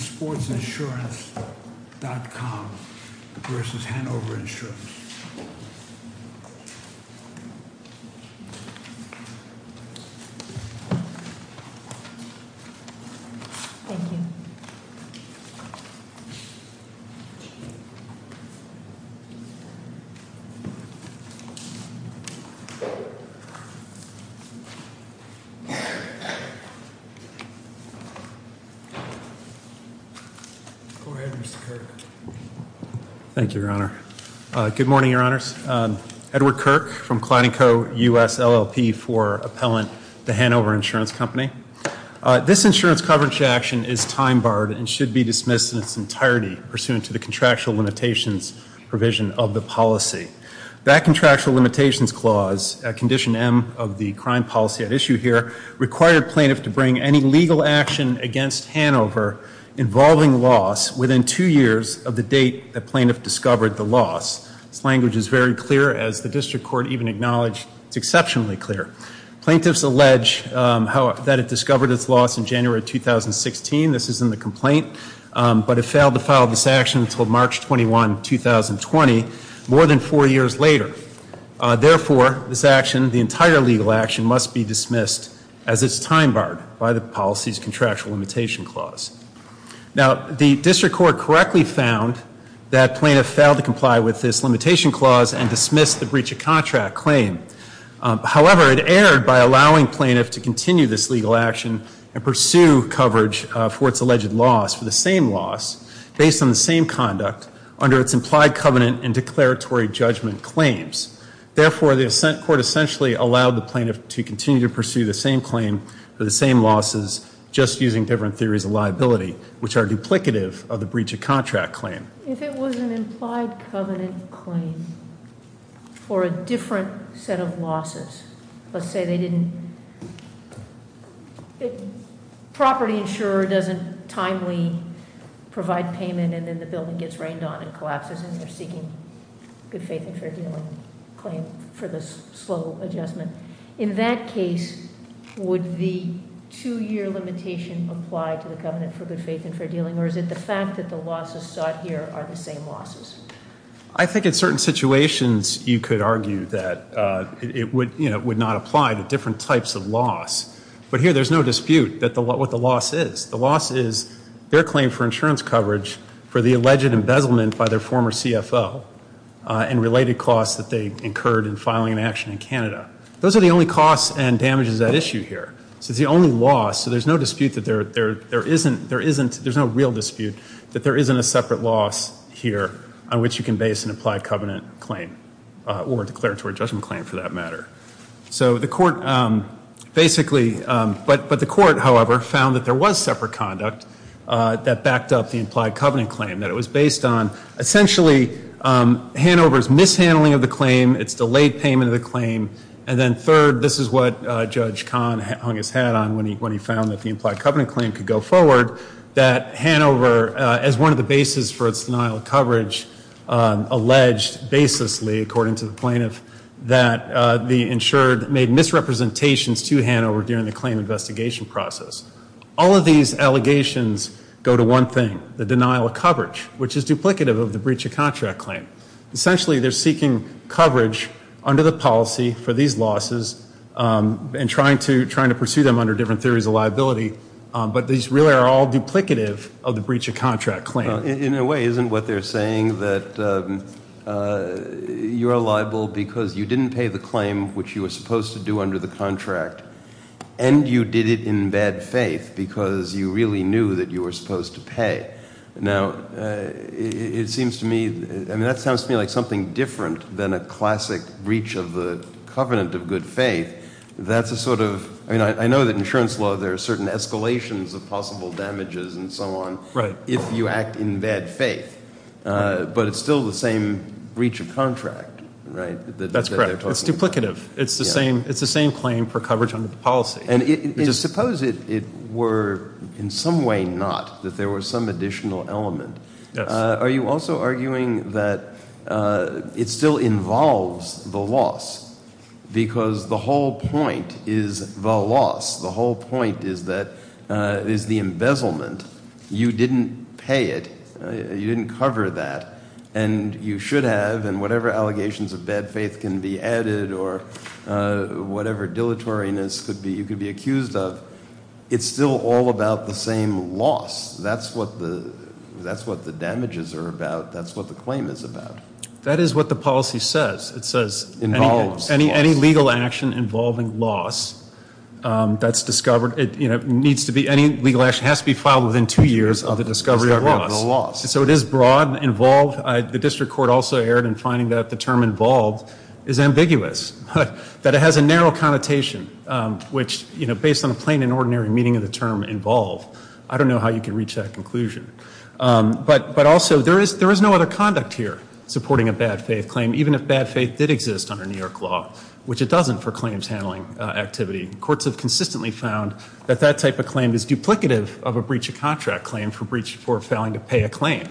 Sportsinsurance.com v. Hanover Insurance Go ahead, Mr. Kirk. Thank you, Your Honor. Good morning, Your Honors. Edward Kirk from Cladding Co. U.S. LLP for appellant to Hanover Insurance Company. This insurance coverage action is time-barred and should be dismissed in its entirety pursuant to the contractual limitations provision of the policy. That contractual limitations clause, condition M of the crime policy at issue here, required plaintiff to bring any legal action against Hanover involving loss within two years of the date the plaintiff discovered the loss. This language is very clear, as the district court even acknowledged it's exceptionally clear. Plaintiffs allege that it discovered its loss in January 2016. This is in the complaint, but it failed to file this action until March 21, 2020, more than four years later. Therefore, this action, the entire legal action, must be dismissed as it's time-barred by the policy's contractual limitation clause. Now, the district court correctly found that plaintiff failed to comply with this limitation clause and dismissed the breach of contract claim. However, it erred by allowing plaintiff to continue this legal action and pursue coverage for its alleged loss for the same loss based on the same conduct under its implied covenant and declaratory judgment claims. Therefore, the assent court essentially allowed the plaintiff to continue to pursue the same claim for the same losses, just using different theories of liability, which are duplicative of the breach of contract claim. If it was an implied covenant claim for a different set of losses, let's say they didn't property insurer doesn't timely provide payment and then the building gets rained on and collapses and they're seeking good faith and fair dealing claim for the slow adjustment. In that case, would the two-year limitation apply to the covenant for good faith and fair dealing, or is it the fact that the losses sought here are the same losses? I think in certain situations you could argue that it would not apply to different types of loss, but here there's no dispute what the loss is. The loss is their claim for insurance coverage for the alleged embezzlement by their former CFO and related costs that they incurred in filing an action in Canada. Those are the only costs and damages at issue here. It's the only loss, so there's no dispute that there isn't a separate loss here on which you can base an implied covenant claim or declaratory judgment claim for that matter. So the court basically, but the court, however, found that there was separate conduct that backed up the implied covenant claim, that it was based on essentially Hanover's mishandling of the claim, its delayed payment of the claim, and then third, this is what Judge Kahn hung his hat on when he found that the implied covenant claim could go forward, that Hanover, as one of the bases for its denial of coverage, alleged baselessly, according to the plaintiff, that the insured made misrepresentations to Hanover during the claim investigation process. All of these allegations go to one thing, the denial of coverage, which is duplicative of the breach of contract claim. Essentially they're seeking coverage under the policy for these losses and trying to pursue them under different theories of liability, but these really are all duplicative of the breach of contract claim. In a way, isn't what they're saying that you're liable because you didn't pay the claim which you were supposed to do under the contract and you did it in bad faith because you really knew that you were supposed to be different than a classic breach of the covenant of good faith, that's a sort of I mean, I know that in insurance law there are certain escalations of possible damages and so on if you act in bad faith, but it's still the same breach of contract, right? That's correct. It's duplicative. It's the same claim for coverage under the policy. And suppose it were in some way not, that there was some additional element. Are you also arguing that it still involves the loss? Because the whole point is the loss. The whole point is the embezzlement. You didn't pay it. You didn't cover that. And you should have and whatever allegations of bad faith can be added or whatever dilatoriness you could be accused of, it's still all about the same loss. That's what the damages are about. That's what the claim is about. That is what the policy says. It says any legal action involving loss that's discovered, any legal action has to be filed within two years of the discovery of loss. So it is broad and involved. The district court also erred in finding that the term involved is ambiguous, that it has a narrow connotation, which based on a plain and ordinary meaning of the term involve, I don't know how you can reach that conclusion. But also there is no other conduct here supporting a bad faith claim, even if bad faith did exist under New York law, which it doesn't for claims handling activity. Courts have consistently found that that type of claim is duplicative of a breach of contract claim for failing to pay a claim.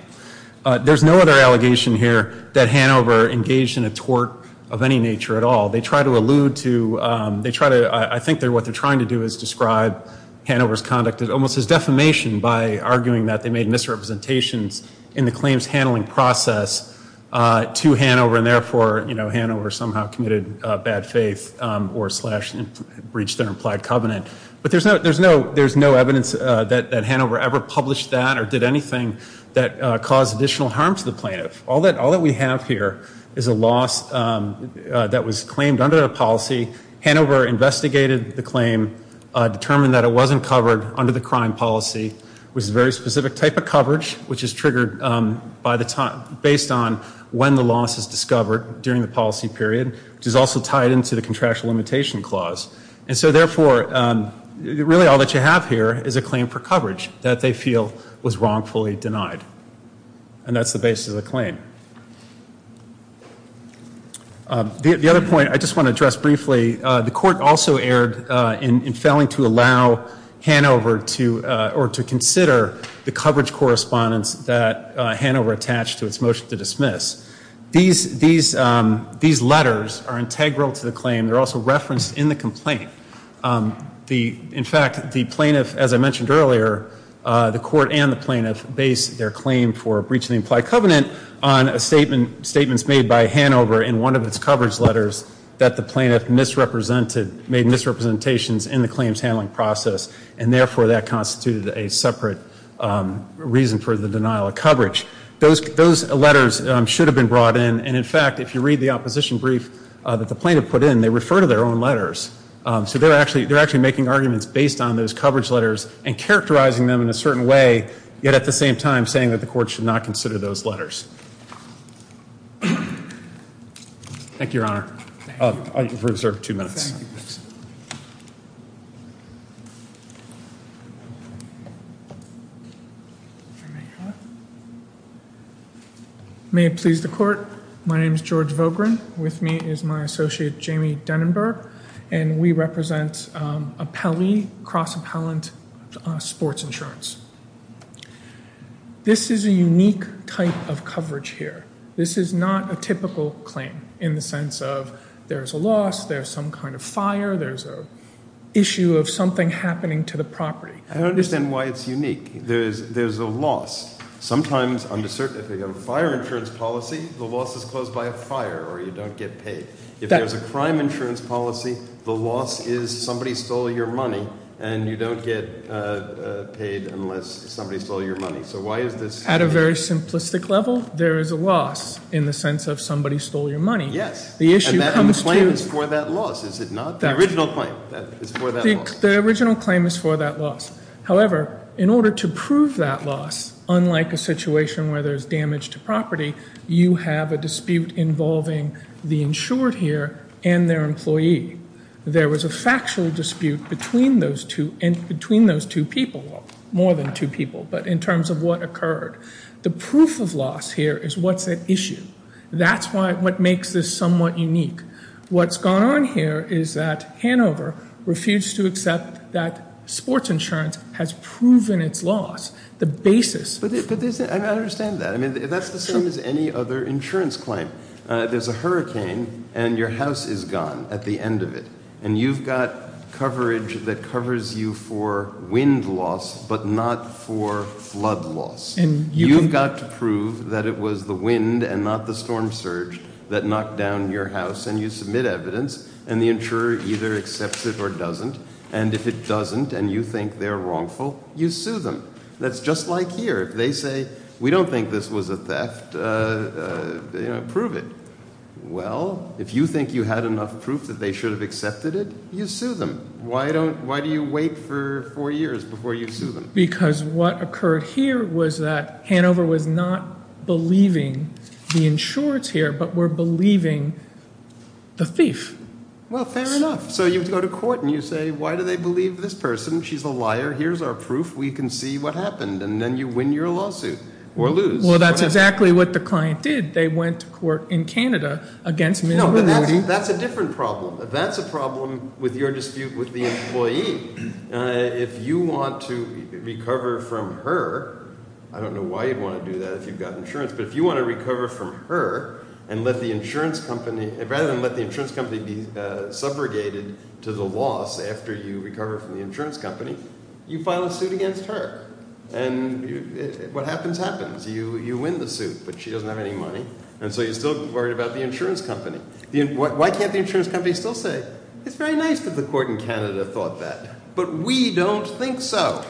There's no other allegation here that Hanover engaged in a tort of any nature at all. They try to allude to, I think what they're trying to do is describe Hanover's conduct almost as defamation by arguing that they made misrepresentations in the claims handling process to Hanover and therefore Hanover somehow committed bad faith or slashed and breached an implied covenant. But there's no evidence that Hanover ever published that or did anything that caused additional harm to the plaintiff. All that we have here is a loss that was claimed under the policy. Hanover investigated the claim, determined that it wasn't covered under the crime policy. It was a very specific type of coverage, which is triggered based on when the loss is Therefore, really all that you have here is a claim for coverage that they feel was wrongfully denied. And that's the basis of the claim. The other point I just want to address briefly, the court also erred in failing to allow Hanover to, or to consider the coverage correspondence that Hanover attached to its motion to dismiss. These letters are integral to the claim. They're also referenced in the complaint. In fact, the plaintiff, as I mentioned earlier, the court and the plaintiff base their claim for breach of the implied covenant on statements made by Hanover in one of its coverage letters that the plaintiff misrepresented, made misrepresentations in the claims handling process. And therefore that constituted a separate reason for the denial of coverage. Those letters should have been brought in. And in fact, if you read the opposition brief that the plaintiff put in, they refer to their own letters. So they're actually making arguments based on those coverage letters and characterizing them in a certain way, yet at the same time saying that the court should not consider those letters. Thank you, Your Honor. I reserve two minutes. May it please the court. My name is George Vogren. With me is my associate, Jamie Denenberg, and we represent Appellee Cross Appellant Sports Insurance. This is a unique type of coverage here. This is not a typical claim in the sense of there's a loss, there's some kind of fire, there's an issue of something happening to the property. I don't understand why it's unique. There's a loss. Sometimes under fire insurance policy, the loss is caused by a fire or you don't get paid. If there's a crime insurance policy, the loss is somebody stole your money and you don't get paid unless somebody stole your money. So why is this At a very simplistic level, there is a loss in the sense of somebody stole your money. Yes. And the claim is for that loss, is it not? The original claim is for that loss. The original claim is for that loss. However, in order to prove that loss, unlike a situation where there's damage to property, you have a dispute involving the insured here and their employee. There was a factual dispute between those two people, more than two people, but in terms of what occurred. The proof of loss here is what's at issue. That's what makes this somewhat unique. What's gone on here is that Hanover refused to accept that sports insurance has proven its loss. The basis I understand that. That's the same as any other insurance claim. There's a hurricane and your house is gone at the end of it. And you've got coverage that covers you for wind loss, but not for flood loss. You've got to prove that it was the wind and not the storm surge that knocked down your house and you submit evidence and the insurer either accepts it or doesn't. And if it doesn't and you think they're wrongful, you sue them. That's just like here. If they say we don't think this was a theft, prove it. Well, if you think you had enough proof that they should have accepted it, you sue them. Why do you wait for four years before you sue them? Because what occurred here was that Hanover was not believing the insureds here, but were believing the thief. Well, fair enough. So you go to court and you say, why do they believe this person? She's a liar. Here's our proof. We can see what happened. And then you win your lawsuit or lose. Well, that's exactly what the client did. They went to court in Canada against me. That's a different problem. That's a problem with your dispute with the employee. If you want to recover from her, I don't know why you'd want to do that if you've got insurance, but if you want to recover from her and let the insurance company rather than let the insurance company be subrogated to the loss after you recover from the insurance company, you file a suit against her. And what happens happens. You win the suit, but she doesn't have any money. And so you're still worried about the insurance company. Why can't the insurance company still say, it's very nice that the court in Canada thought that, but we don't think so.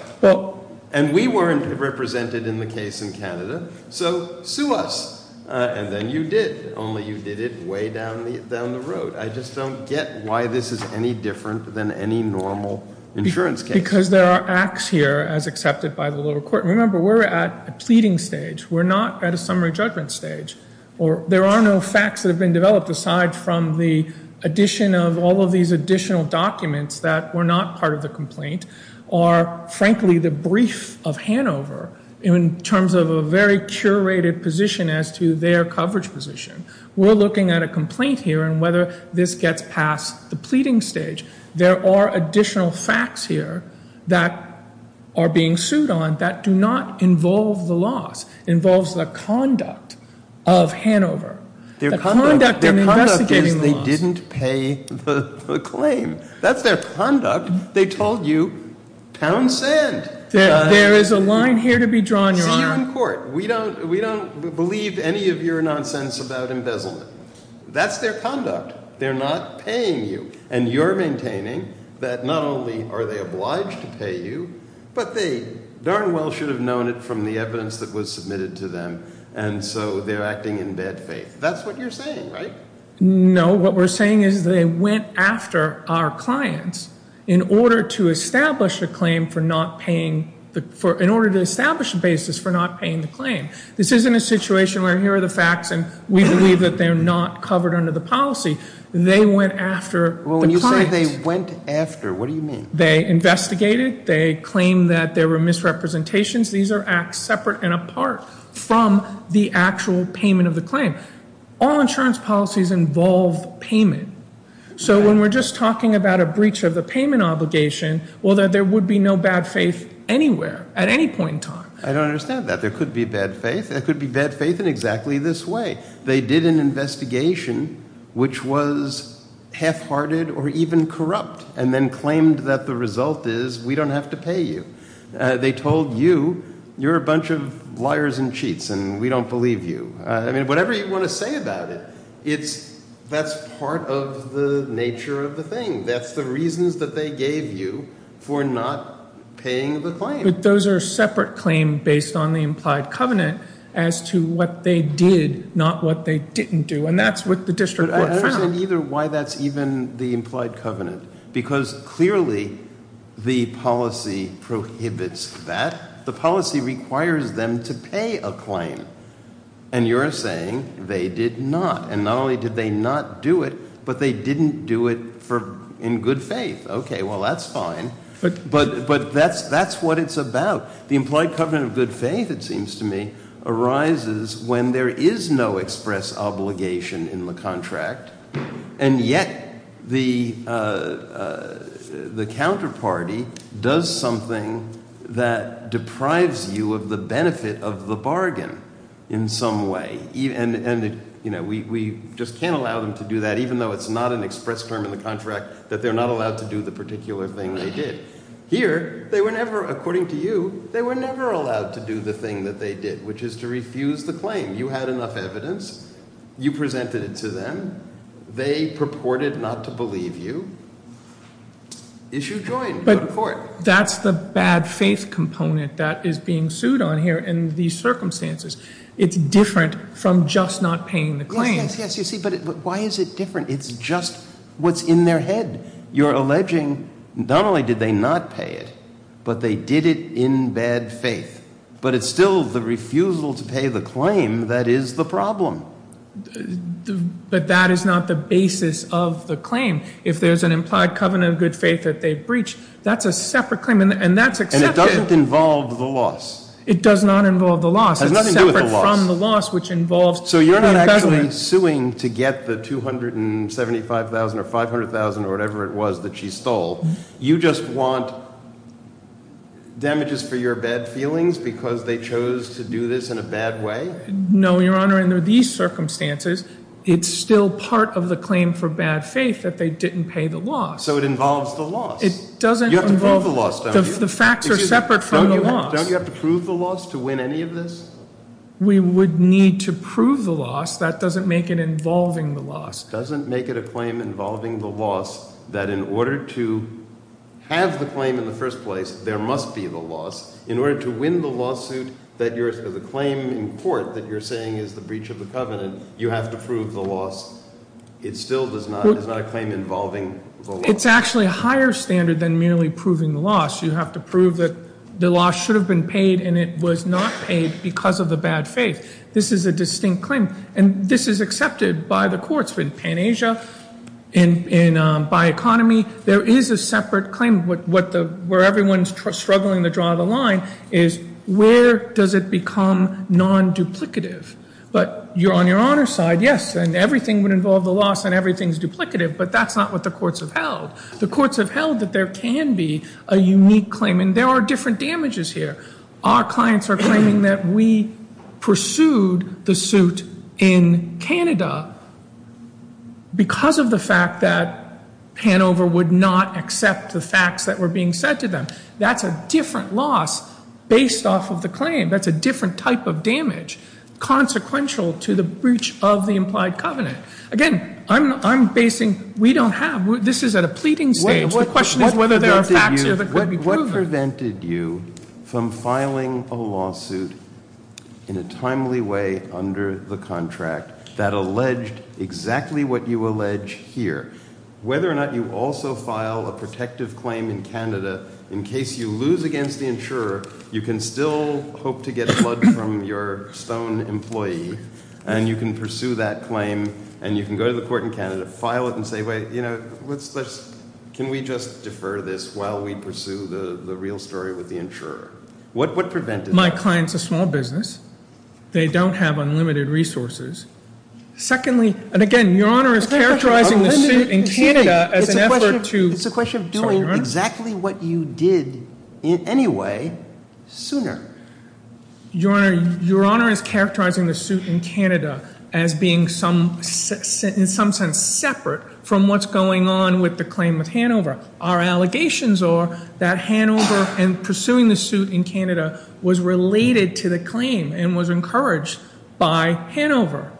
And we weren't represented in the case in Canada. So sue us. And then you did. Only you did it way down the road. I just don't get why this is any different than any normal insurance case. Because there are acts here as accepted by the lower court. Remember, we're at a pleading stage. We're not at a summary judgment stage. There are no facts that have been developed aside from the addition of all of these additional documents that were not part of the complaint or frankly the brief of Hanover in terms of a very coverage position. We're looking at a complaint here and whether this gets past the pleading stage. There are additional facts here that are being sued on that do not involve the loss. Involves the conduct of Hanover. The conduct in investigating the loss. That's their conduct. They told you pound sand. There is a line here to be drawn. See you in court. We don't believe any of your nonsense about embezzlement. That's their conduct. They're not paying you. And you're maintaining that not only are they obliged to pay you, but they darn well should have known it from the evidence that was submitted to them. And so they're acting in bad faith. That's what you're saying, right? No, what we're saying is they went after our clients in order to establish a claim for not paying in order to establish a basis for not paying the claim. This isn't a situation where here are the facts and we believe that they're not covered under the policy. They went after the client. When you say they went after, what do you mean? They investigated. They claimed that there were misrepresentations. These are acts separate and apart from the actual payment of the claim. All insurance policies involve payment. So when we're just talking about a breach of the payment obligation, well, there would be no bad faith anywhere at any point in time. I don't understand that. There could be bad faith. There could be bad faith in exactly this way. They did an investigation which was half-hearted or even corrupt and then claimed that the result is we don't have to pay you. They told you you're a bunch of liars and cheats and we don't believe you. I mean, whatever you want to say about it, that's part of the nature of the thing. That's the reasons that they gave you for not paying the claim. But those are separate claims based on the implied covenant as to what they did, not what they didn't do. And that's what the district court found. But I don't understand either why that's even the implied covenant. Because clearly the policy prohibits that. The policy requires them to pay a claim. And you're saying they did not. And not only did they not do it, but they didn't do it in good faith. Okay, well, that's fine. But that's what it's about. The implied covenant of good faith, it seems to me, arises when there is no express obligation in the contract and yet the counterparty does something that deprives you of the benefit of the bargain in some way. And we just can't allow them to do that even though it's not an express term in the contract that they're not allowed to do the particular thing they did. Here, they were never, according to you, given enough evidence. You presented it to them. They purported not to believe you. Issue joined. But that's the bad faith component that is being sued on here in these circumstances. It's different from just not paying the claim. Yes, yes, yes. You see, but why is it different? It's just what's in their head. You're alleging not only did they not pay it, but they did it in bad faith. But it's still the refusal to pay the claim that is the problem. But that is not the basis of the claim. If there's an implied covenant of good faith that they've breached, that's a separate claim and that's accepted. And it doesn't involve the loss. It does not involve the loss. It's separate from the loss, which involves the embezzlement. So you're not actually suing to get the $275,000 or $500,000 or whatever it was that she stole. You just want damages for your bad feelings because they chose to do this in a bad way? No, Your Honor. Under these circumstances, it's still part of the claim for bad faith that they didn't pay the loss. So it involves the loss. It doesn't involve the loss. The facts are separate from the loss. Don't you have to prove the loss to win any of this? We would need to prove the loss. That doesn't make it involving the loss. It doesn't make it a claim involving the loss that in order to have the claim in the first place, there must be the loss. In order to win the lawsuit, the claim in court that you're saying is the breach of the covenant, you have to prove the loss. It still is not a claim involving the loss. It's actually a higher standard than merely proving the loss. You have to prove that the loss should have been paid and it was not paid because of the bad faith. This is a distinct claim. And this is accepted by the courts in Pan-Asia and by economy. There is a separate claim where everyone is struggling to draw the line is where does it become non-duplicative? But on Your Honor's side, yes, and everything would involve the loss and everything is duplicative. But that's not what the courts have said here. Our clients are claiming that we pursued the suit in Canada because of the fact that Hanover would not accept the facts that were being said to them. That's a different loss based off of the claim. That's a different type of damage consequential to the breach of the implied covenant. Again, I'm basing, we don't have, this is at a pleading stage. The question is whether there are facts here that could be proven. What prevented you from filing a lawsuit in a timely way under the contract that alleged exactly what you allege here? Whether or not you also file a protective claim in Canada in case you lose against the insurer, you can still hope to get blood from your stone employee and you can pursue that claim and you can go to the court in Canada, file it and say, wait, can we just defer this while we pursue the real story with the insurer? What prevented that? My client's a small business. They don't have unlimited resources. Secondly, and again, Your Honor is characterizing the suit in Canada as an effort to It's a question of doing exactly what you did anyway sooner. Your Honor is characterizing the suit in Canada as being in some sense separate from what's going on with the claim of Hanover. Our allegations are that Hanover and pursuing the suit in Canada was related to the claim and was encouraged by Hanover.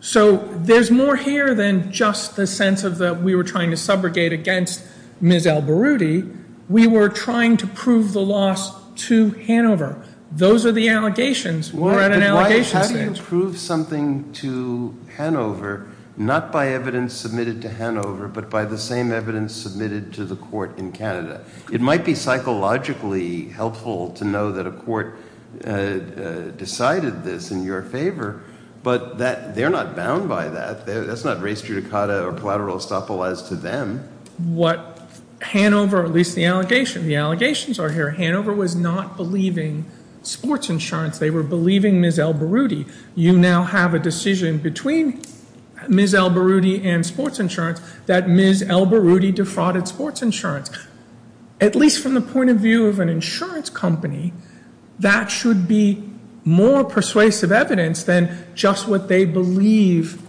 So there's more here than just the sense of that we were trying to subrogate against Ms. Alberudi. We were trying to prove the loss to Hanover. Those are the allegations. We're at an allegation stage. But how do you prove something to Hanover, not by evidence submitted to Hanover, but by the same evidence submitted to the court in Canada? It might be psychologically helpful to know that a court decided this in your favor, but they're not bound by that. That's not race judicata or collateral estoppel as to them. Hanover, at least the allegations are here, Hanover was not believing sports insurance. They were believing Ms. Alberudi. You now have a decision between Ms. Alberudi and sports insurance that Ms. Alberudi defrauded sports insurance. At least from the point of view of an insurance company, that should be more persuasive evidence than just what they believe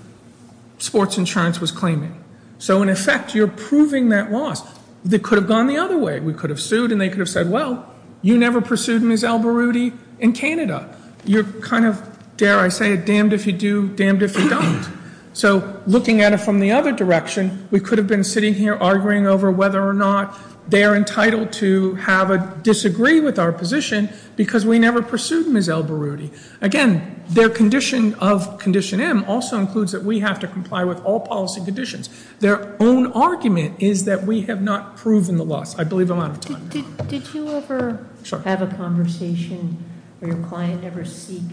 sports insurance was claiming. So in effect, you're proving that loss. It could have gone the other way. We could have sued and they could have said, well, you never pursued Ms. Alberudi in Canada. You're kind of, dare I say it, damned if you do, damned if you don't. So looking at it from the other direction, we could have been sitting here arguing over whether or not they are disagree with our position because we never pursued Ms. Alberudi. Again, their condition of Condition M also includes that we have to comply with all policy conditions. Their own argument is that we have not proven the loss. I believe I'm out of time. Did you ever have a conversation where your client ever seek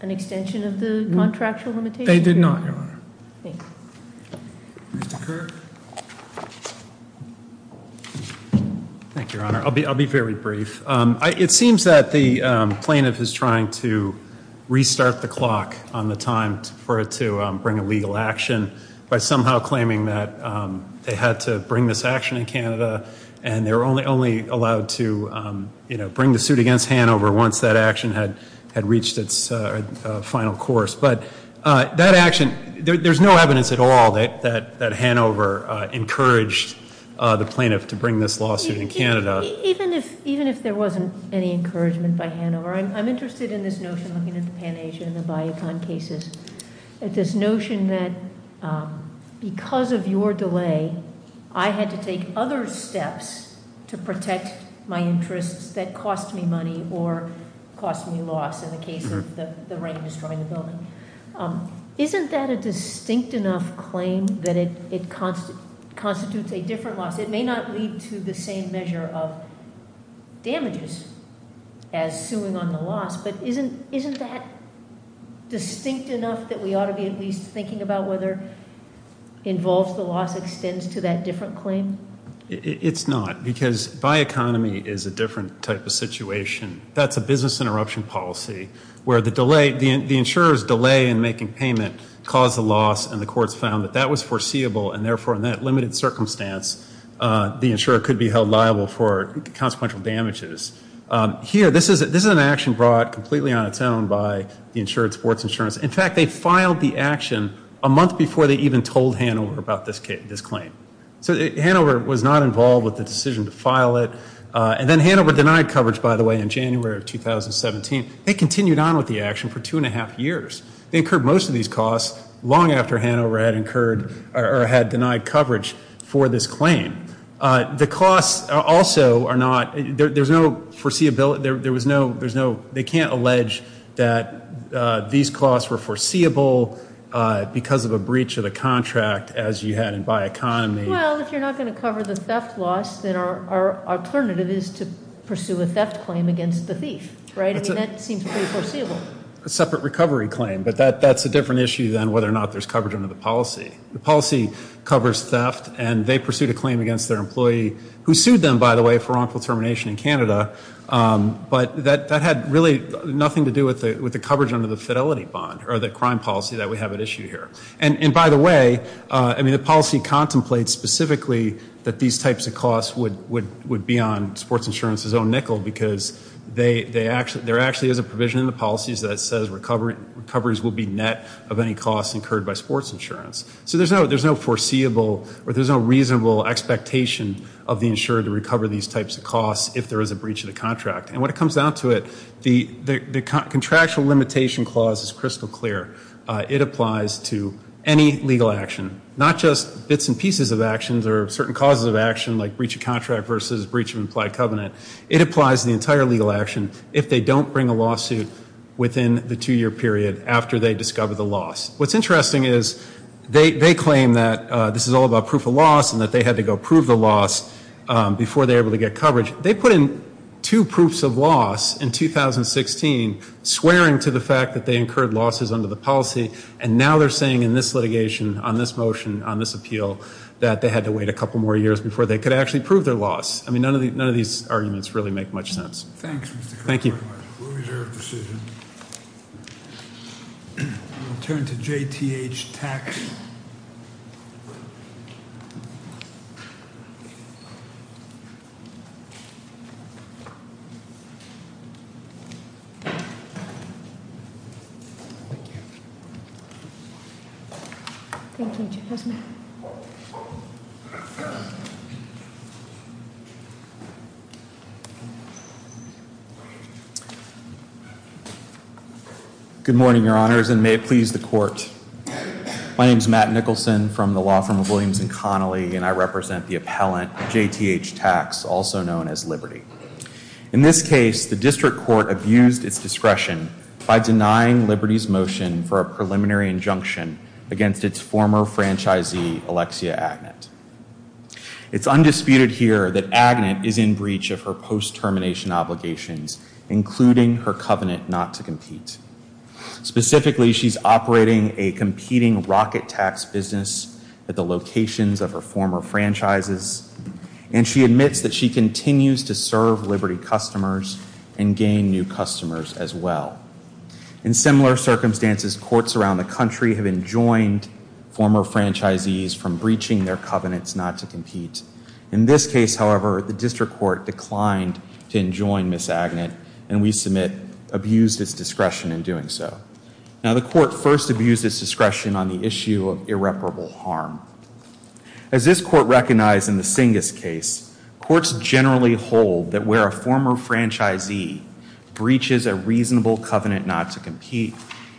an extension of the contractual limitation? They did not, Your Honor. Mr. Kirk? Thank you, Your Honor. I'll be very brief. It seems that the plaintiff is trying to restart the clock on the time for it to bring a legal action by somehow claiming that they had to bring this action in Canada and they were only allowed to bring the suit against Hanover once that action had reached its final course. But that action, there's no evidence at all that Hanover encouraged the plaintiff to bring this lawsuit in Canada. Even if there wasn't any encouragement by Hanover, I'm interested in this notion, looking at the Pan-Asian and the Bayekon cases, at this notion that because of your delay, I had to take other steps to protect my interests that cost me money or cost me loss in the case of the rain destroying the building. Isn't that a distinct enough claim that it constitutes a different loss? It may not lead to the same measure of damages as suing on the loss, but isn't that distinct enough that we ought to be at least thinking about whether involves the loss extends to that different claim? It's not, because Bayekonomy is a different type of situation. That's a business interruption policy where the delay, the insurer's delay in making payment caused the loss and the courts found that that was foreseeable and therefore in that limited circumstance the insurer could be held liable for consequential damages. Here, this is an action brought completely on by the insured sports insurance. In fact, they filed the action a month before they even told Hanover about this claim. So Hanover was not involved with the decision to file it and then Hanover denied coverage, by the way, in January of 2017. They continued on with the action for two and a half years. They incurred most of these costs long after Hanover had incurred or had denied coverage for this claim. The costs also are not, there's no foreseeability, there was no, there's no, they can't allege that these costs were foreseeable because of a breach of the contract as you had in Bayekonomy. Well, if you're not going to cover the theft loss, then our alternative is to pursue a theft claim against the thief, right? I mean, that seems pretty foreseeable. A separate recovery claim, but that's a different issue than whether or not there's coverage under the policy. The policy covers theft and they pursued a claim against their employee, who sued them, by the way, for wrongful termination in Canada, but that had really nothing to do with the coverage under the fidelity bond or the crime policy that we have at issue here. And by the way, I mean, the policy contemplates specifically that these types of costs would be on sports insurance's own nickel because there actually is a provision in the policies that says recoveries will be net of any costs incurred by sports insurance. So there's no foreseeable or there's no reasonable expectation of the insurer to recover these types of costs if there is a breach of the contract. And when it comes down to it, the contractual limitation clause is crystal clear. It applies to any legal action, not just bits and pieces of actions or certain causes of action like breach of contract versus breach of implied covenant. It applies to the entire legal action if they don't bring a lawsuit within the two year period after they discover the loss. What's interesting is they claim that this is all about proof of loss and that they had to go prove the loss before they were able to get coverage. They put in two proofs of loss in 2016 swearing to the fact that they incurred losses under the policy and now they're saying in this litigation, on this motion, on this appeal, that they had to wait a couple more years before they could actually prove their loss. None of these arguments really make much sense. Thank you. We'll turn to JTH Tax. Good morning, Your Honors. And may it please the Court. My name is Matt Nicholson from the Law Firm of Williams and Connolly and I represent the appellant JTH Tax, also known as Liberty. In this case, the District Court abused its discretion by denying Liberty's motion for a preliminary injunction against its former franchisee, Alexia Agnet. It's undisputed here that Agnet is in breach of her post-termination obligations, including her covenant not to compete. Specifically, she's operating a competing rocket tax business at the locations of her former franchises and she admits that she continues to serve Liberty customers and gain new clients. In this case, however, the District Court declined to enjoin Ms. Agnet and we submit abused its discretion in doing so. Now, the Court first abused its discretion on the issue of irreparable harm. As this Court recognized in the Singus case, courts generally hold that where a former franchisee breaches a reasonable covenant not to compete,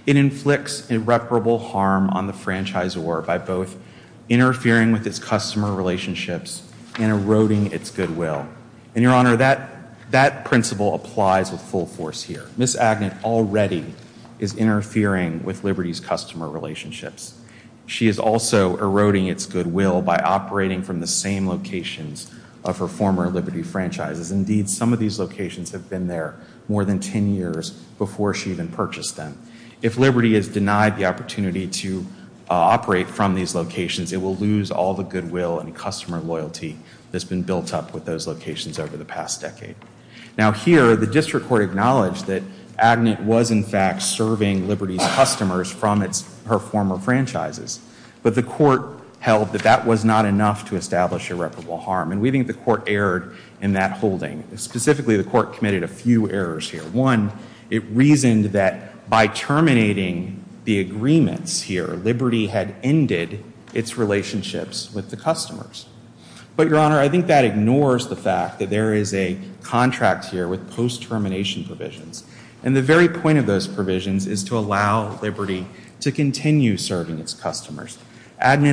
it inflicts irreparable harm on the franchisor by both interfering with its customer relationships and eroding its goodwill. And, Your Honor, that principle applies with full force here. Ms. Agnet already is interfering with Liberty's customer relationships. She is also eroding its goodwill by operating from the same locations of her former Liberty franchises. Indeed, some of these locations have been there more than ten years before she even purchased them. If Liberty is denied the opportunity to operate from these locations, it will lose all the goodwill and customer loyalty that's been built up with those locations over the past decade. Now here, the District Court acknowledged that Agnet was, in fact, serving Liberty's customers from her former franchises. But the Court held that that was not enough to establish irreparable harm. And we think the Court erred in that holding. Specifically, the Court committed a few errors here. One, it reasoned that by terminating the agreements here, Liberty had ended its relationships with the customers. But, Your Honor, I think that ignores the fact that there is a contract here with post-termination provisions. And the very point of those is that Liberty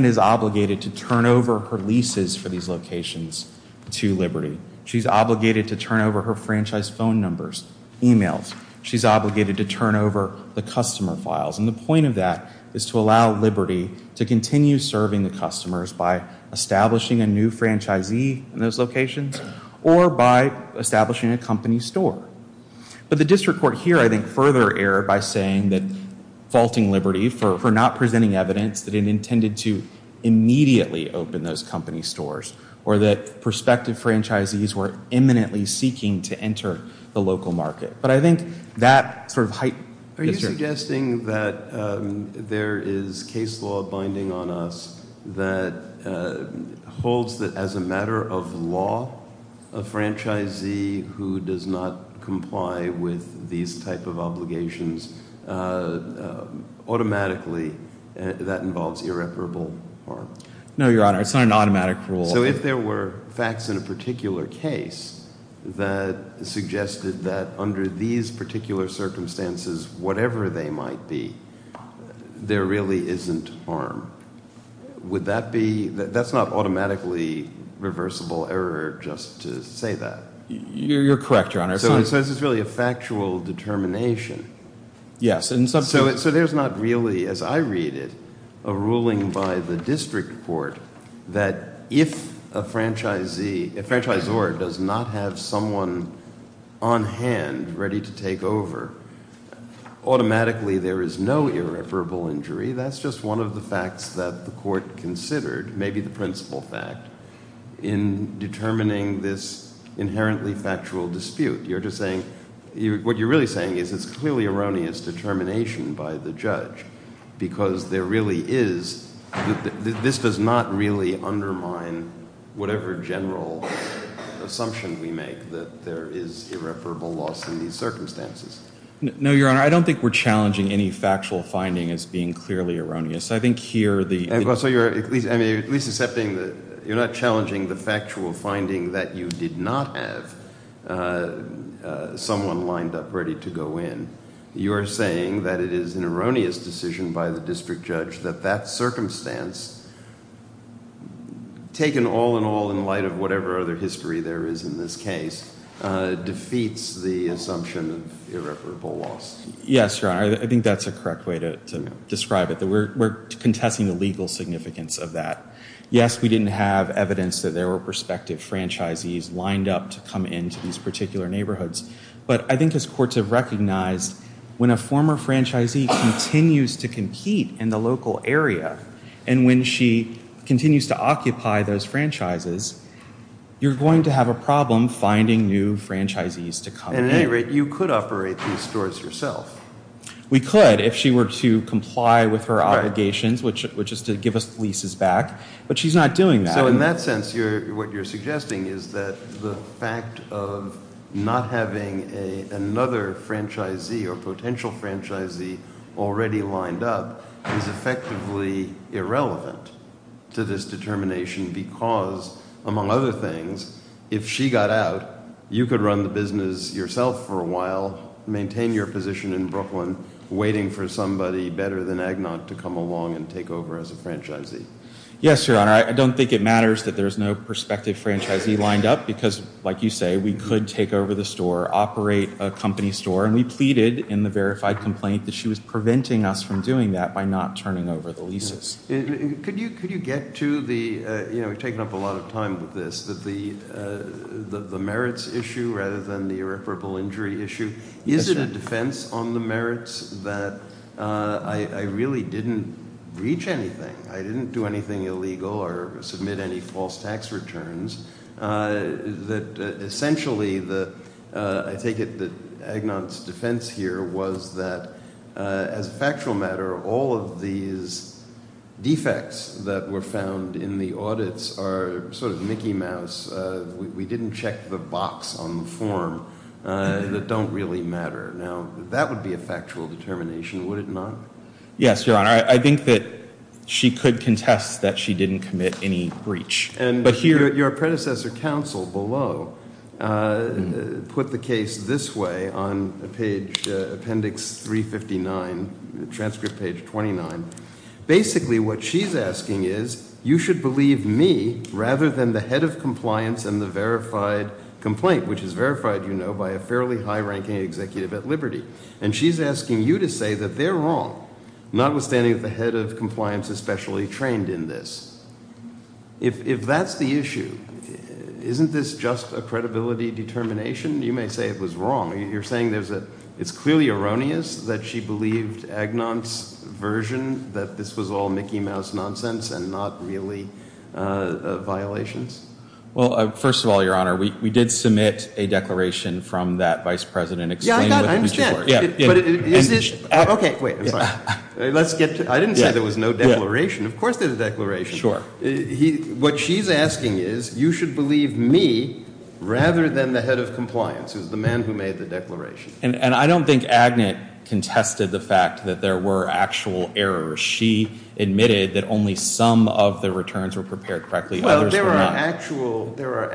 is obligated to turn over her leases for these locations to Liberty. She's obligated to turn over her franchise phone numbers, emails. She's obligated to turn over the customer files. And the point of that is to allow Liberty to continue serving the customers by establishing a new franchisee in those locations or by establishing a company store. But the District Court here, I think, further erred by saying that faulting Liberty for not presenting evidence that it intended to immediately open those company stores or that prospective franchisees were imminently seeking to enter the local market. But I think that sort of heightens Are you suggesting that there is case law binding on us that holds that as a matter of law, a franchisee who does not comply with these type of obligations, automatically that involves irreparable harm? No, Your Honor. It's not an automatic rule. So if there were facts in a particular case that suggested that under these particular circumstances, whatever they might be, there really isn't harm. Would that be, that's not automatically reversible error just to say that. You're correct, Your Honor. So this is really a factual determination. Yes. So there's not really, as I read it, a ruling by the District Court that if a franchisee, a franchisor does not have someone on hand ready to take over, automatically there is no irreparable injury. That's just one of the facts that the court considered, maybe the principal fact, in determining this inherently factual dispute. You're just saying, what you're really saying is it's clearly erroneous determination by the judge because there really is, this does not really undermine whatever general assumption we make that there is irreparable loss in these circumstances. No, Your Honor. I don't think we're challenging any factual finding as being clearly erroneous. I think here the... So you're at least accepting, you're not challenging the factual finding that you did not have someone lined up ready to go in. You're saying that it is an erroneous decision by the district judge that that whatever history there is in this case, defeats the assumption of irreparable loss. Yes, Your Honor. I think that's a correct way to describe it. We're contesting the legal significance of that. Yes, we didn't have evidence that there were prospective franchisees lined up to come into these particular neighborhoods. But I think as courts have recognized, when a former franchisee continues to compete in the local area and when she continues to occupy those franchises, you're going to have a problem finding new franchisees to come. At any rate, you could operate these stores yourself. We could if she were to comply with her obligations, which is to give us leases back. But she's not doing that. So in that sense, what you're suggesting is that the fact of not having another franchisee or potential franchisee already lined up is effectively irrelevant to this determination because, among other things, if she got out, you could run the business yourself for a while, maintain your position in Brooklyn, waiting for somebody better than Agnot to come along and take over as a franchisee. Yes, Your Honor. I don't think it matters that there's no prospective franchisee lined up because, like you say, we could take over the store, operate a company store. And we pleaded in the verified complaint that she was preventing us from doing that by not turning over the leases. Could you get to the, you know, we've taken up a lot of time with this, that the merits issue rather than the irreparable injury issue, is it a defense on the merits that I really didn't reach anything, I didn't do anything illegal or submit any false tax returns, that essentially the, I take it that Agnot's defense here was that, as a factual matter, all of these defects that were found in the audits are sort of Mickey Mouse. We didn't check the box on the form that don't really matter. Now, that would be a factual determination, would it not? Yes, Your Honor. I think that she could contest that she didn't commit any breach. But here, your predecessor counsel below put the case this way on page, appendix 359, transcript page 29. Basically what she's asking is, you should believe me rather than the head of compliance and the verified complaint, which is verified, you know, by a fairly high-ranking executive at Liberty. And she's asking you to say that they're wrong, notwithstanding that the head of compliance is specially trained in this. If that's the issue, isn't this just a credibility determination? You may say it was wrong. You're saying it's clearly erroneous that she believed Agnot's version that this was all Mickey Mouse nonsense and not really violations? Well, first of all, Your Honor, we did submit a declaration from that vice president. Yeah, I got it. I understand. Okay, wait. I'm sorry. I didn't say there was no declaration. Of course there's a declaration. Sure. What she's asking is, you should believe me rather than the head of compliance, who's the man who made the declaration. And I don't think Agnot contested the fact that there were actual errors. She admitted that only some of the returns were prepared correctly. Others were not. Well, there are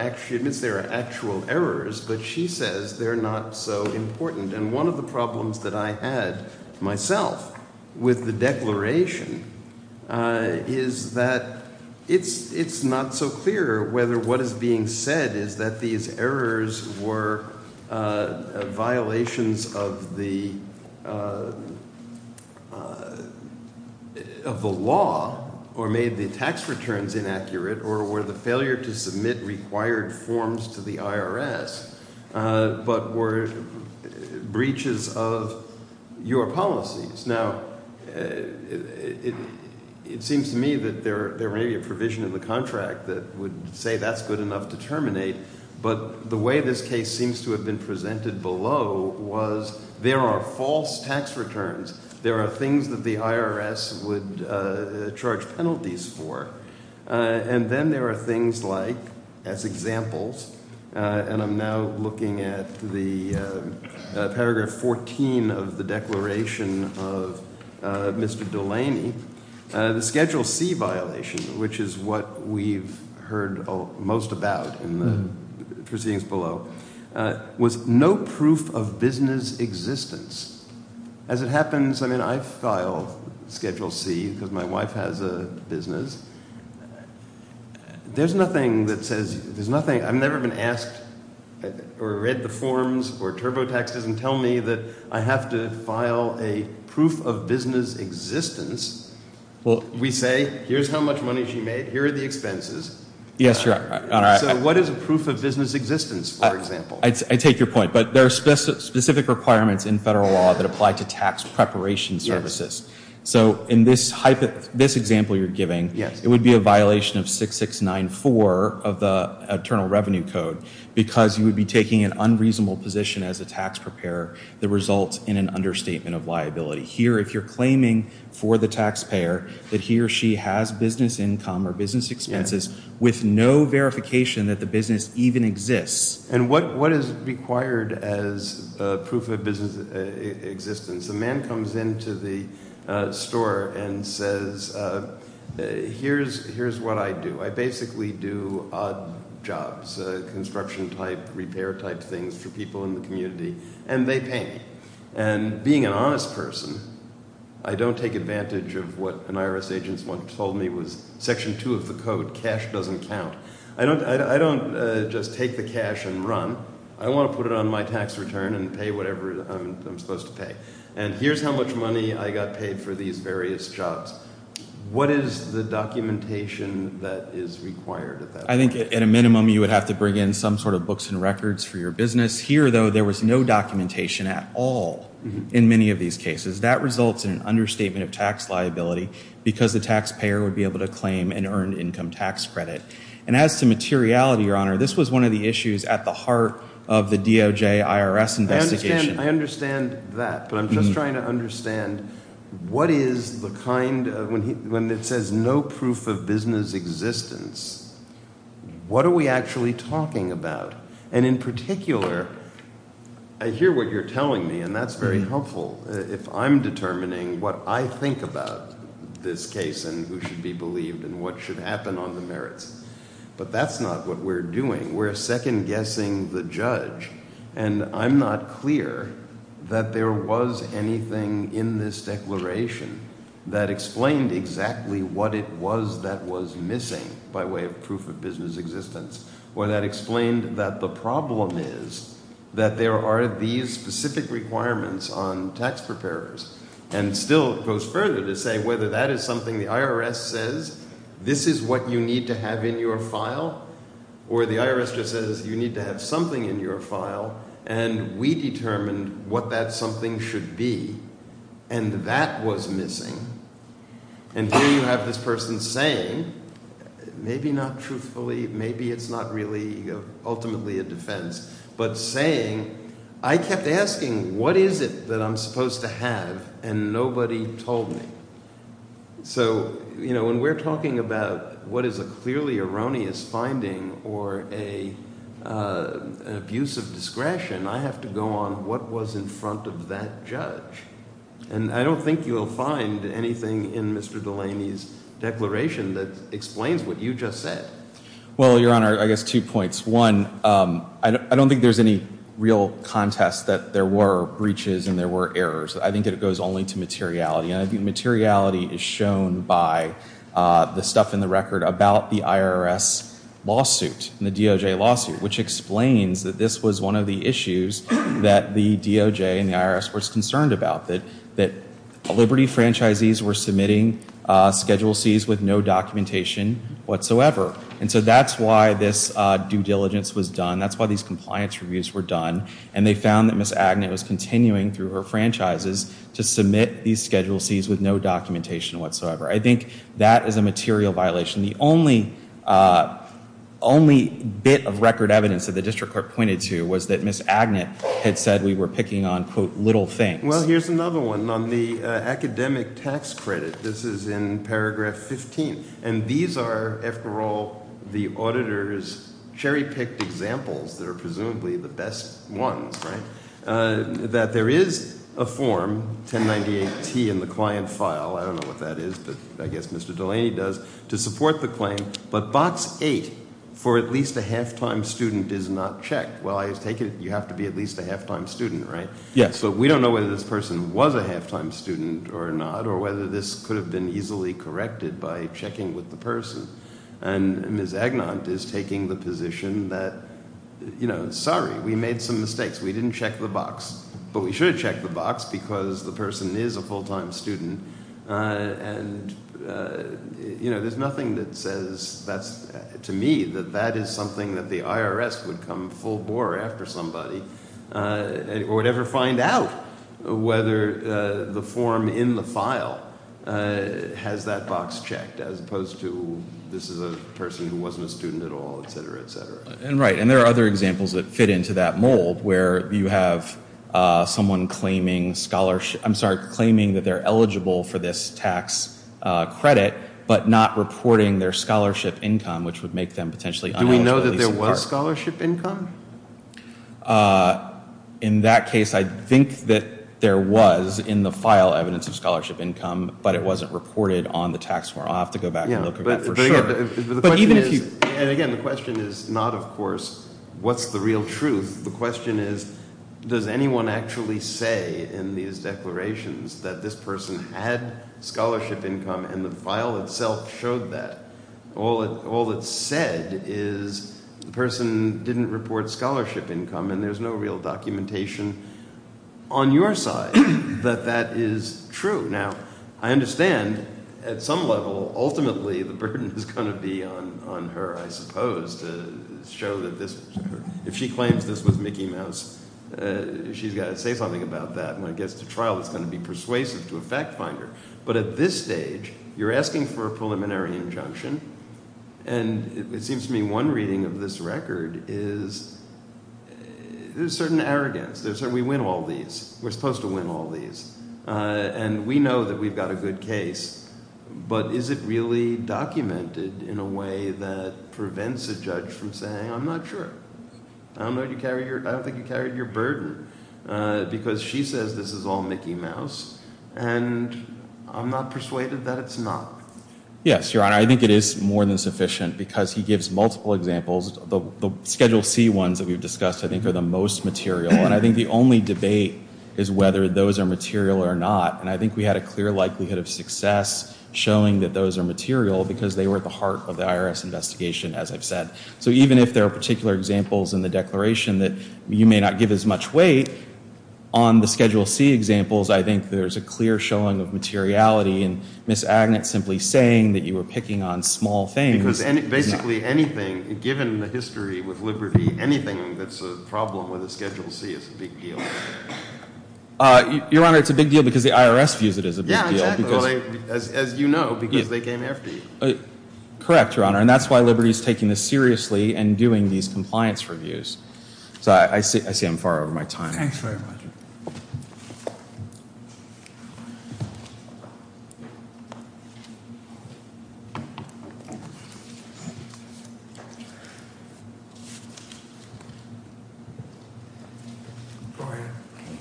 actual errors, but she says they're not so important. And one of the problems that I had myself with the declaration is that it's not so clear whether what is being said is that these errors were violations of the law or made the tax returns inaccurate or were the failure to submit required forms to the IRS, but were breaches of your policies. Now, it seems to me that there may be a reason to terminate, but the way this case seems to have been presented below was there are false tax returns. There are things that the IRS would charge penalties for. And then there are things like, as examples, and I'm now looking at the paragraph 14 of the declaration of Mr. Delaney, the Schedule C violation, which is what we've heard most about in the proceedings below, was no proof of business existence. As it happens, I mean, I file Schedule C because my wife has a business. There's nothing that says, there's nothing, I've never been asked or read the forms or TurboTaxes and tell me that I have to file a proof of business existence. We say, here's how much money she made, here are the expenses. So what is a proof of business existence, for example? I take your point, but there are specific requirements in federal law that apply to tax preparation services. So in this example you're giving, it would be a violation of 6694 of the Internal Revenue Code, because you would be taking an unreasonable position as a tax preparer that results in an understatement of liability. Here, if you're claiming for the taxpayer that he or she has business income or business expenses with no verification that the business even exists. And what is required as proof of business existence? The man comes into the store and says, here's what I do. I basically do odd jobs, construction type, repair type things for people in the community, and they pay me. And being an honest person, I don't take advantage of what an IRS agent once told me was Section 2 of the Code, cash doesn't count. I don't just take the cash and run. I want to put it on my tax return and pay whatever I'm supposed to pay. And here's how much money I got paid for these various jobs. What is the documentation that is required? I think at a minimum you would have to bring in some sort of books and records for your business. Here, though, there was no documentation at all in many of these cases. That results in an understatement of tax liability because the taxpayer would be able to claim an earned income tax credit. And as to materiality, Your Honor, this was one of the issues at the heart of the DOJ-IRS investigation. I understand that, but I'm just trying to understand what is the kind of, when it says no proof of business existence, what are we actually talking about? And in particular, I hear what you're telling me, and that's very helpful. If I'm determining what I think about this case and who should be their second guessing the judge, and I'm not clear that there was anything in this declaration that explained exactly what it was that was missing by way of proof of business existence, or that explained that the problem is that there are these specific requirements on tax preparers. And still it goes further to say whether that is something the IRS says, this is what you need to have in your file, or the IRS just says you need to have something in your file, and we determined what that something should be, and that was missing. And here you have this person saying, maybe not truthfully, maybe it's not really ultimately a defense, but saying, I kept asking, what is it that I'm supposed to have, and nobody told me. So when we're talking about what is a clearly erroneous finding or an abuse of discretion, I have to go on what was in front of that judge. And I don't think you'll find anything in Mr. Delaney's declaration that explains what you just said. Well, Your Honor, I guess two points. One, I don't think there's any real contest that there were breaches and there were errors. I think it goes only to materiality, and I think materiality is shown by the stuff in the record about the IRS lawsuit, the DOJ lawsuit, which explains that this was one of the issues that the DOJ and the IRS was concerned about, that Liberty franchisees were submitting Schedule C's with no documentation whatsoever. And so that's why this due diligence was done. That's why these compliance reviews were done. And they found that Ms. Agnett was continuing through her franchises to submit these Schedule C's with no documentation whatsoever. I think that is a material violation. The only bit of record evidence that the district court pointed to was that Ms. Agnett had said we were picking on, quote, little things. Well, here's another one. On the academic tax credit, this is in paragraph 15. And these are, after all, the auditor's cherry-picked examples that are presumably the best ones, right? That there is a form, 1098T in the client file, I don't know what that is, but I guess Mr. Delaney does, to support the claim, but box 8 for at least a half-time student is not checked. Well, you have to be at least a half-time student, right? So we don't know whether this person was a half-time student or not, or whether this could have been easily corrected by checking with the person. And Ms. Agnett is taking the position that, sorry, we made some mistakes. We didn't check the box. But we should have checked the box because the person is a full-time student. And there's nothing that says to me that that is something that the IRS would come full-bore after somebody or would ever find out whether the form in the file has that box checked, as opposed to this is a person who wasn't a student at all, et cetera, et cetera. And there are other examples that fit into that mold where you have someone claiming that they're eligible for this tax credit, but not reporting their scholarship income, which would make them potentially uneligible. Do we know that there was scholarship income? In that case, I think that there was in the file evidence of scholarship income, but it wasn't reported on the tax form. I'll have to go back and look at that for sure. And again, the question is not, of course, what's the real truth. The question is, does anyone actually say in these declarations that this person had scholarship income and the file itself showed that? All it said is the person didn't report scholarship income, and there's no real documentation on your side that that is true. Now, I understand at some level, ultimately, the burden is going to be on her, I suppose, to show that if she claims this was Mickey Mouse, she's got to say something about that. When it gets to trial, it's going to be persuasive to a fact finder. But at this stage, you're asking for a preliminary injunction. And it seems to me one reading of this record is there's certain arrogance. We win all these. We're supposed to win all these. And we know that we've got a good case. But is it really documented in a way that prevents a judge from saying, I'm not sure. I don't think you carried your burden, because she says this is all Mickey Mouse. And I'm not persuaded that it's not. Yes, Your Honor. I think it is more than sufficient, because he gives multiple examples. The Schedule C ones that we've looked at, we've looked at whether they were material or not. And I think we had a clear likelihood of success showing that those are material, because they were at the heart of the IRS investigation, as I've said. So even if there are particular examples in the declaration that you may not give as much weight, on the Schedule C examples, I think there's a clear showing of materiality. And Ms. Agnett simply saying that you were picking on small things. Because basically anything, given the history with Liberty, anything that's a problem with a Schedule C is a big deal. Your Honor, it's a big deal because the IRS views it as a big deal. Yeah, exactly. As you know, because they came after you. Correct, Your Honor. And that's why Liberty is taking this seriously and doing these compliance reviews. I see I'm far over my time. Thanks very much.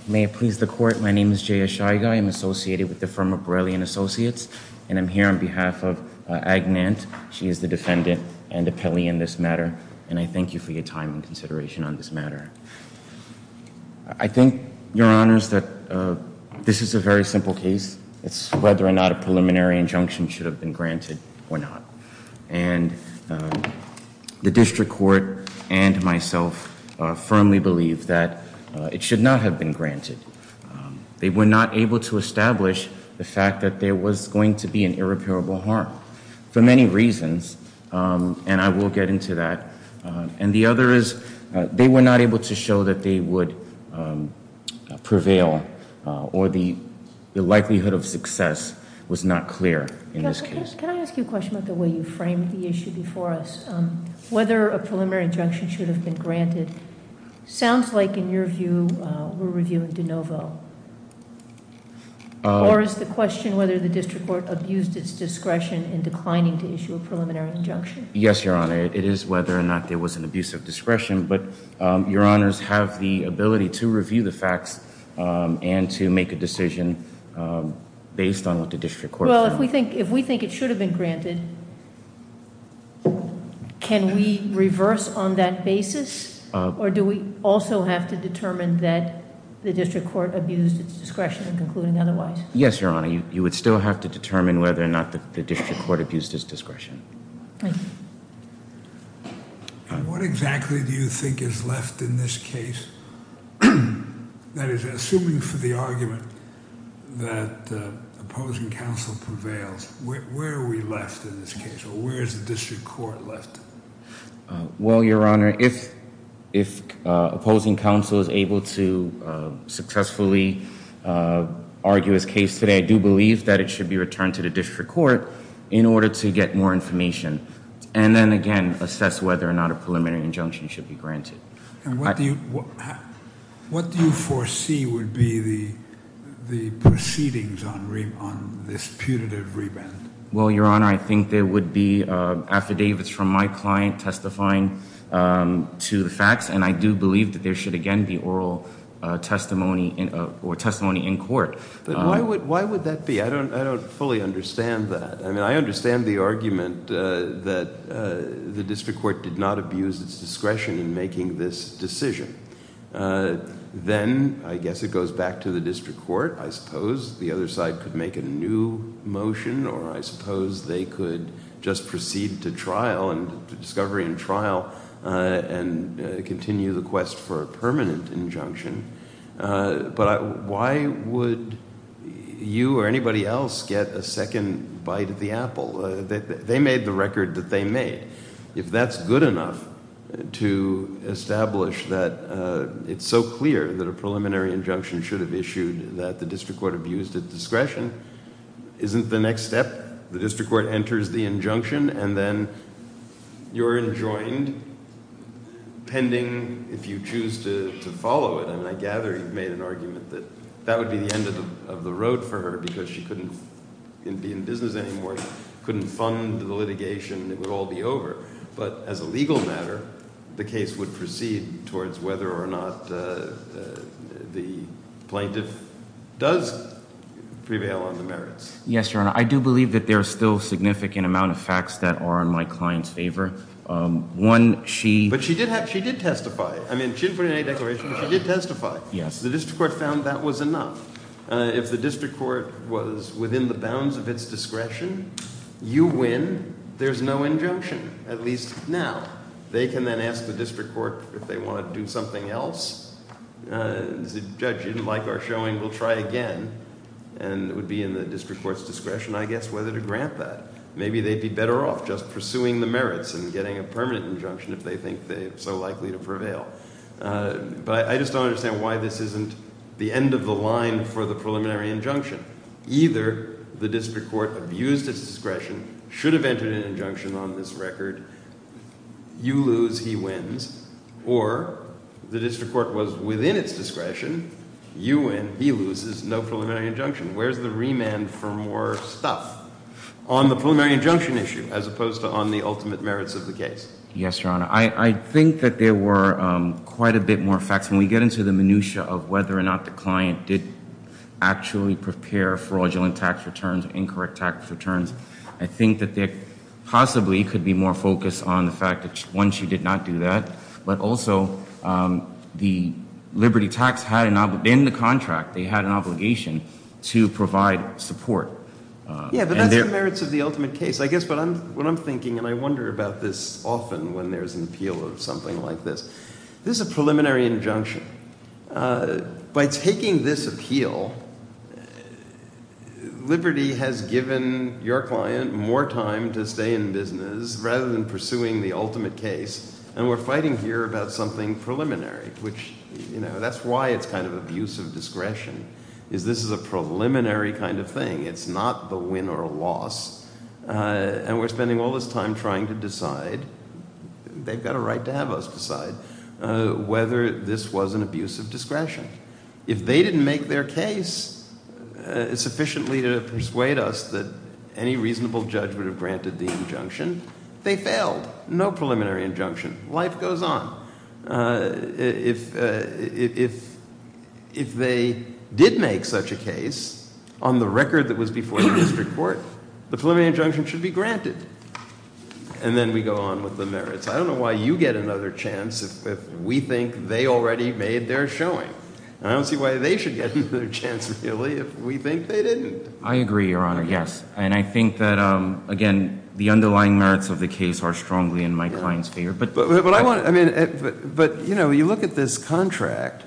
May it please the Court. My name is Jay Ashaiga. I am associated with the firm Abrellian Associates. And I'm here on behalf of Agnett. She is the defendant and appellee in this matter. And I thank you for your time and consideration on this matter. I think, Your Honors, that this is a very simple case. It's whether or not a preliminary injunction should have been granted or not. And the District Court and myself firmly believe that it should not have been granted. They were not able to establish the fact that there was going to be an irreparable harm. For many reasons, and I will get into that. And the other is they were not able to show that they would prevail or the likelihood of success was not clear in this case. Can I ask you a question about the way you framed the issue before us? Whether a preliminary injunction should have been granted sounds like, in your view, we're reviewing de novo. Or is the question whether the District Court abused its discretion in declining to issue a preliminary injunction? Yes, Your Honor. It is whether or not there was an abuse of discretion. But Your Honors have the ability to review the facts and to make a decision based on what the District Court found. Well, if we think it should have been granted, can we reverse on that basis? Or do we also have to determine that the District Court abused its discretion in concluding otherwise? Yes, Your Honor. You would still have to determine whether or not the District Court abused its discretion. Thank you. What exactly do you think is left in this case? That is, assuming for the argument that opposing counsel prevails, where are we left in this case? Or where is the District Court left? Well, Your Honor, if opposing counsel is able to successfully argue his case today, I do believe that it should be returned to the District Court in order to get more information and then, again, assess whether or not a preliminary injunction should be granted. And what do you foresee would be the proceedings on this putative reband? Well, Your Honor, I think there would be affidavits from my client testifying to the facts, and I do believe that there should, again, be oral testimony or testimony in court. But why would that be? I don't fully understand that. I mean, I understand the argument that the District Court did not abuse its discretion in making this decision. Then, I guess it goes back to the District Court, I suppose. The other side could make a new motion, or I suppose they could just proceed to trial and discovery in trial and continue the quest for a permanent injunction. But why would you or anybody else get a second bite of the apple? They made the record that they made. If that's good enough to establish that it's so clear that a preliminary injunction should have issued that the District Court abused its discretion, isn't the next step the District Court enters the injunction and then you're enjoined pending if you choose to follow it? I mean, I gather you've made an argument that that would be the end of the road for her because she couldn't be in business anymore, couldn't fund the litigation, it would all be over. But as a legal matter, the case would proceed towards whether or not the plaintiff does prevail on the merits. Yes, Your Honor. I do believe that there are still significant amount of facts that are in my client's favor. One, she... But she did testify. I mean, she didn't put in any declaration, but she did testify. Yes. The District Court found that was enough. If the District Court was within the bounds of its discretion, you win, there's no injunction, at least now. They can then ask the District Court if they want to do something else. The judge didn't like our showing, we'll try again. And it would be in the District Court's interest in getting a permanent injunction if they think they're so likely to prevail. But I just don't understand why this isn't the end of the line for the preliminary injunction. Either the District Court abused its discretion, should have entered an injunction on this record, you lose, he wins, or the District Court was within its discretion, you win, he loses, no preliminary injunction. Where's the remand for more stuff on the preliminary injunction issue as opposed to on the ultimate merits of the case? Yes, Your Honor. I think that there were quite a bit more facts. When we get into the minutiae of whether or not the client did actually prepare fraudulent tax returns, incorrect tax returns, I think that there possibly could be more focus on the fact that, one, she did not do that, but also the fact that she did not provide support. Yeah, but that's the merits of the ultimate case. I guess what I'm thinking, and I wonder about this often when there's an appeal of something like this, this is a preliminary injunction. By taking this appeal, Liberty has given your client more time to stay in business rather than pursuing the ultimate case, and we're fighting here about something preliminary, which, you know, that's why it's kind of abuse of discretion, is this is a preliminary kind of thing. It's not the win or loss, and we're spending all this time trying to decide, they've got a right to have us decide, whether this was an abuse of discretion. If they didn't make their case sufficiently to persuade us that any reasonable judge would have granted the injunction, they failed. No preliminary injunction. Life goes on. If they did make such a case on the record that was before the district court, the preliminary injunction should be granted. And then we go on with the merits. I don't know why you get another chance if we think they already made their showing. I don't see why they should get another chance, really, if we think they didn't. I agree, Your Honor, yes. And I think that, again, the underlying merits of the case are strongly in my client's favor. But, you know, you look at this contract,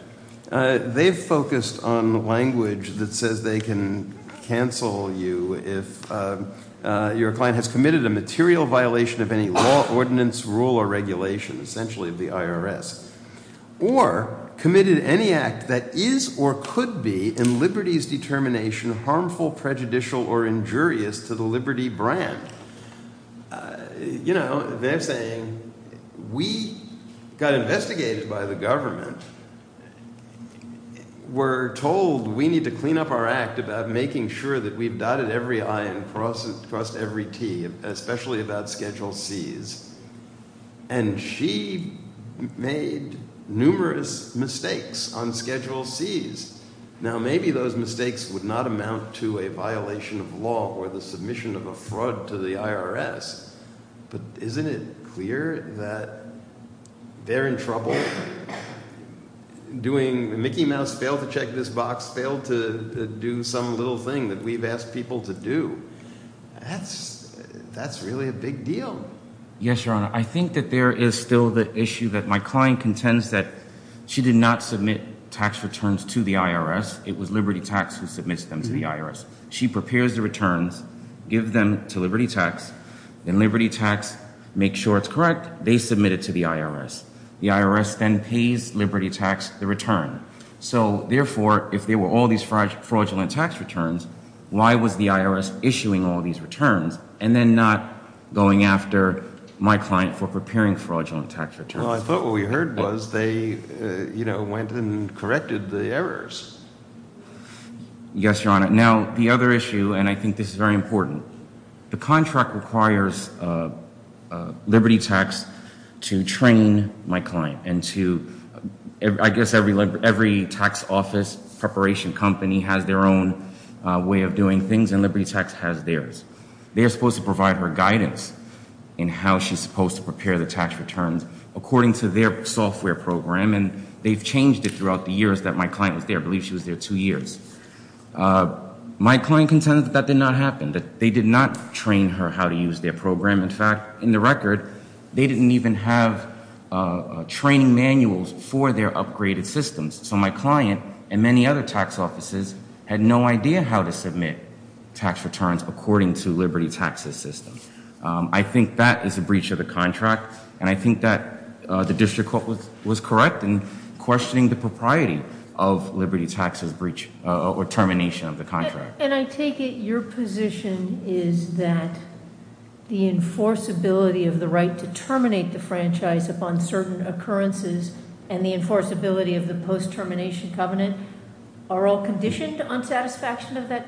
they've focused on language that says they can cancel you if your client has committed a material violation of any law, ordinance, rule, or regulation, essentially of the IRS, or committed any act that is or could be, in Liberty's determination, harmful, prejudicial, or injurious to the Liberty brand. You know, they're saying, we got investigated by the government. We're told we need to clean up our act about making sure that we've dotted every I and crossed every T, especially about Schedule C's. And she made numerous mistakes on Schedule C's. Now, maybe those mistakes would not amount to a violation of law or the submission of a fraud to the IRS, but isn't it clear that they're in trouble? Doing the Mickey Mouse, fail to check this box, fail to do some little thing that we've asked people to do. That's really a big deal. Yes, Your Honor. I think that there is still the issue that my client contends that she did not submit tax returns to the IRS. It was Liberty Tax who submits them to the IRS. She prepares the returns, gives them to Liberty Tax, and Liberty Tax makes sure it's correct. They submit it to the IRS. The IRS then pays Liberty Tax the return. So, therefore, if there were all these fraudulent tax returns, why was the IRS issuing all these returns and then not going after my client for preparing fraudulent tax returns? Well, I thought what we heard was they, you know, went and corrected the errors. Yes, Your Honor. Now, the other issue, and I think this is very important, the contract requires Liberty Tax to train my client and to, I guess every tax office preparation company has their own way of doing things, and Liberty Tax has theirs. They're supposed to provide her guidance in how she's supposed to prepare the tax returns according to their software program, and they've changed it throughout the years that my client was there. I believe she was there two years. My client contends that that did not happen, that they did not train her how to use their program. In fact, in the record, they didn't even have training manuals for their upgraded systems. So my client and many other tax offices had no idea how to submit tax returns according to Liberty Tax's system. I think that is a breach of the contract, and I think that the district court was correct in questioning the propriety of that training.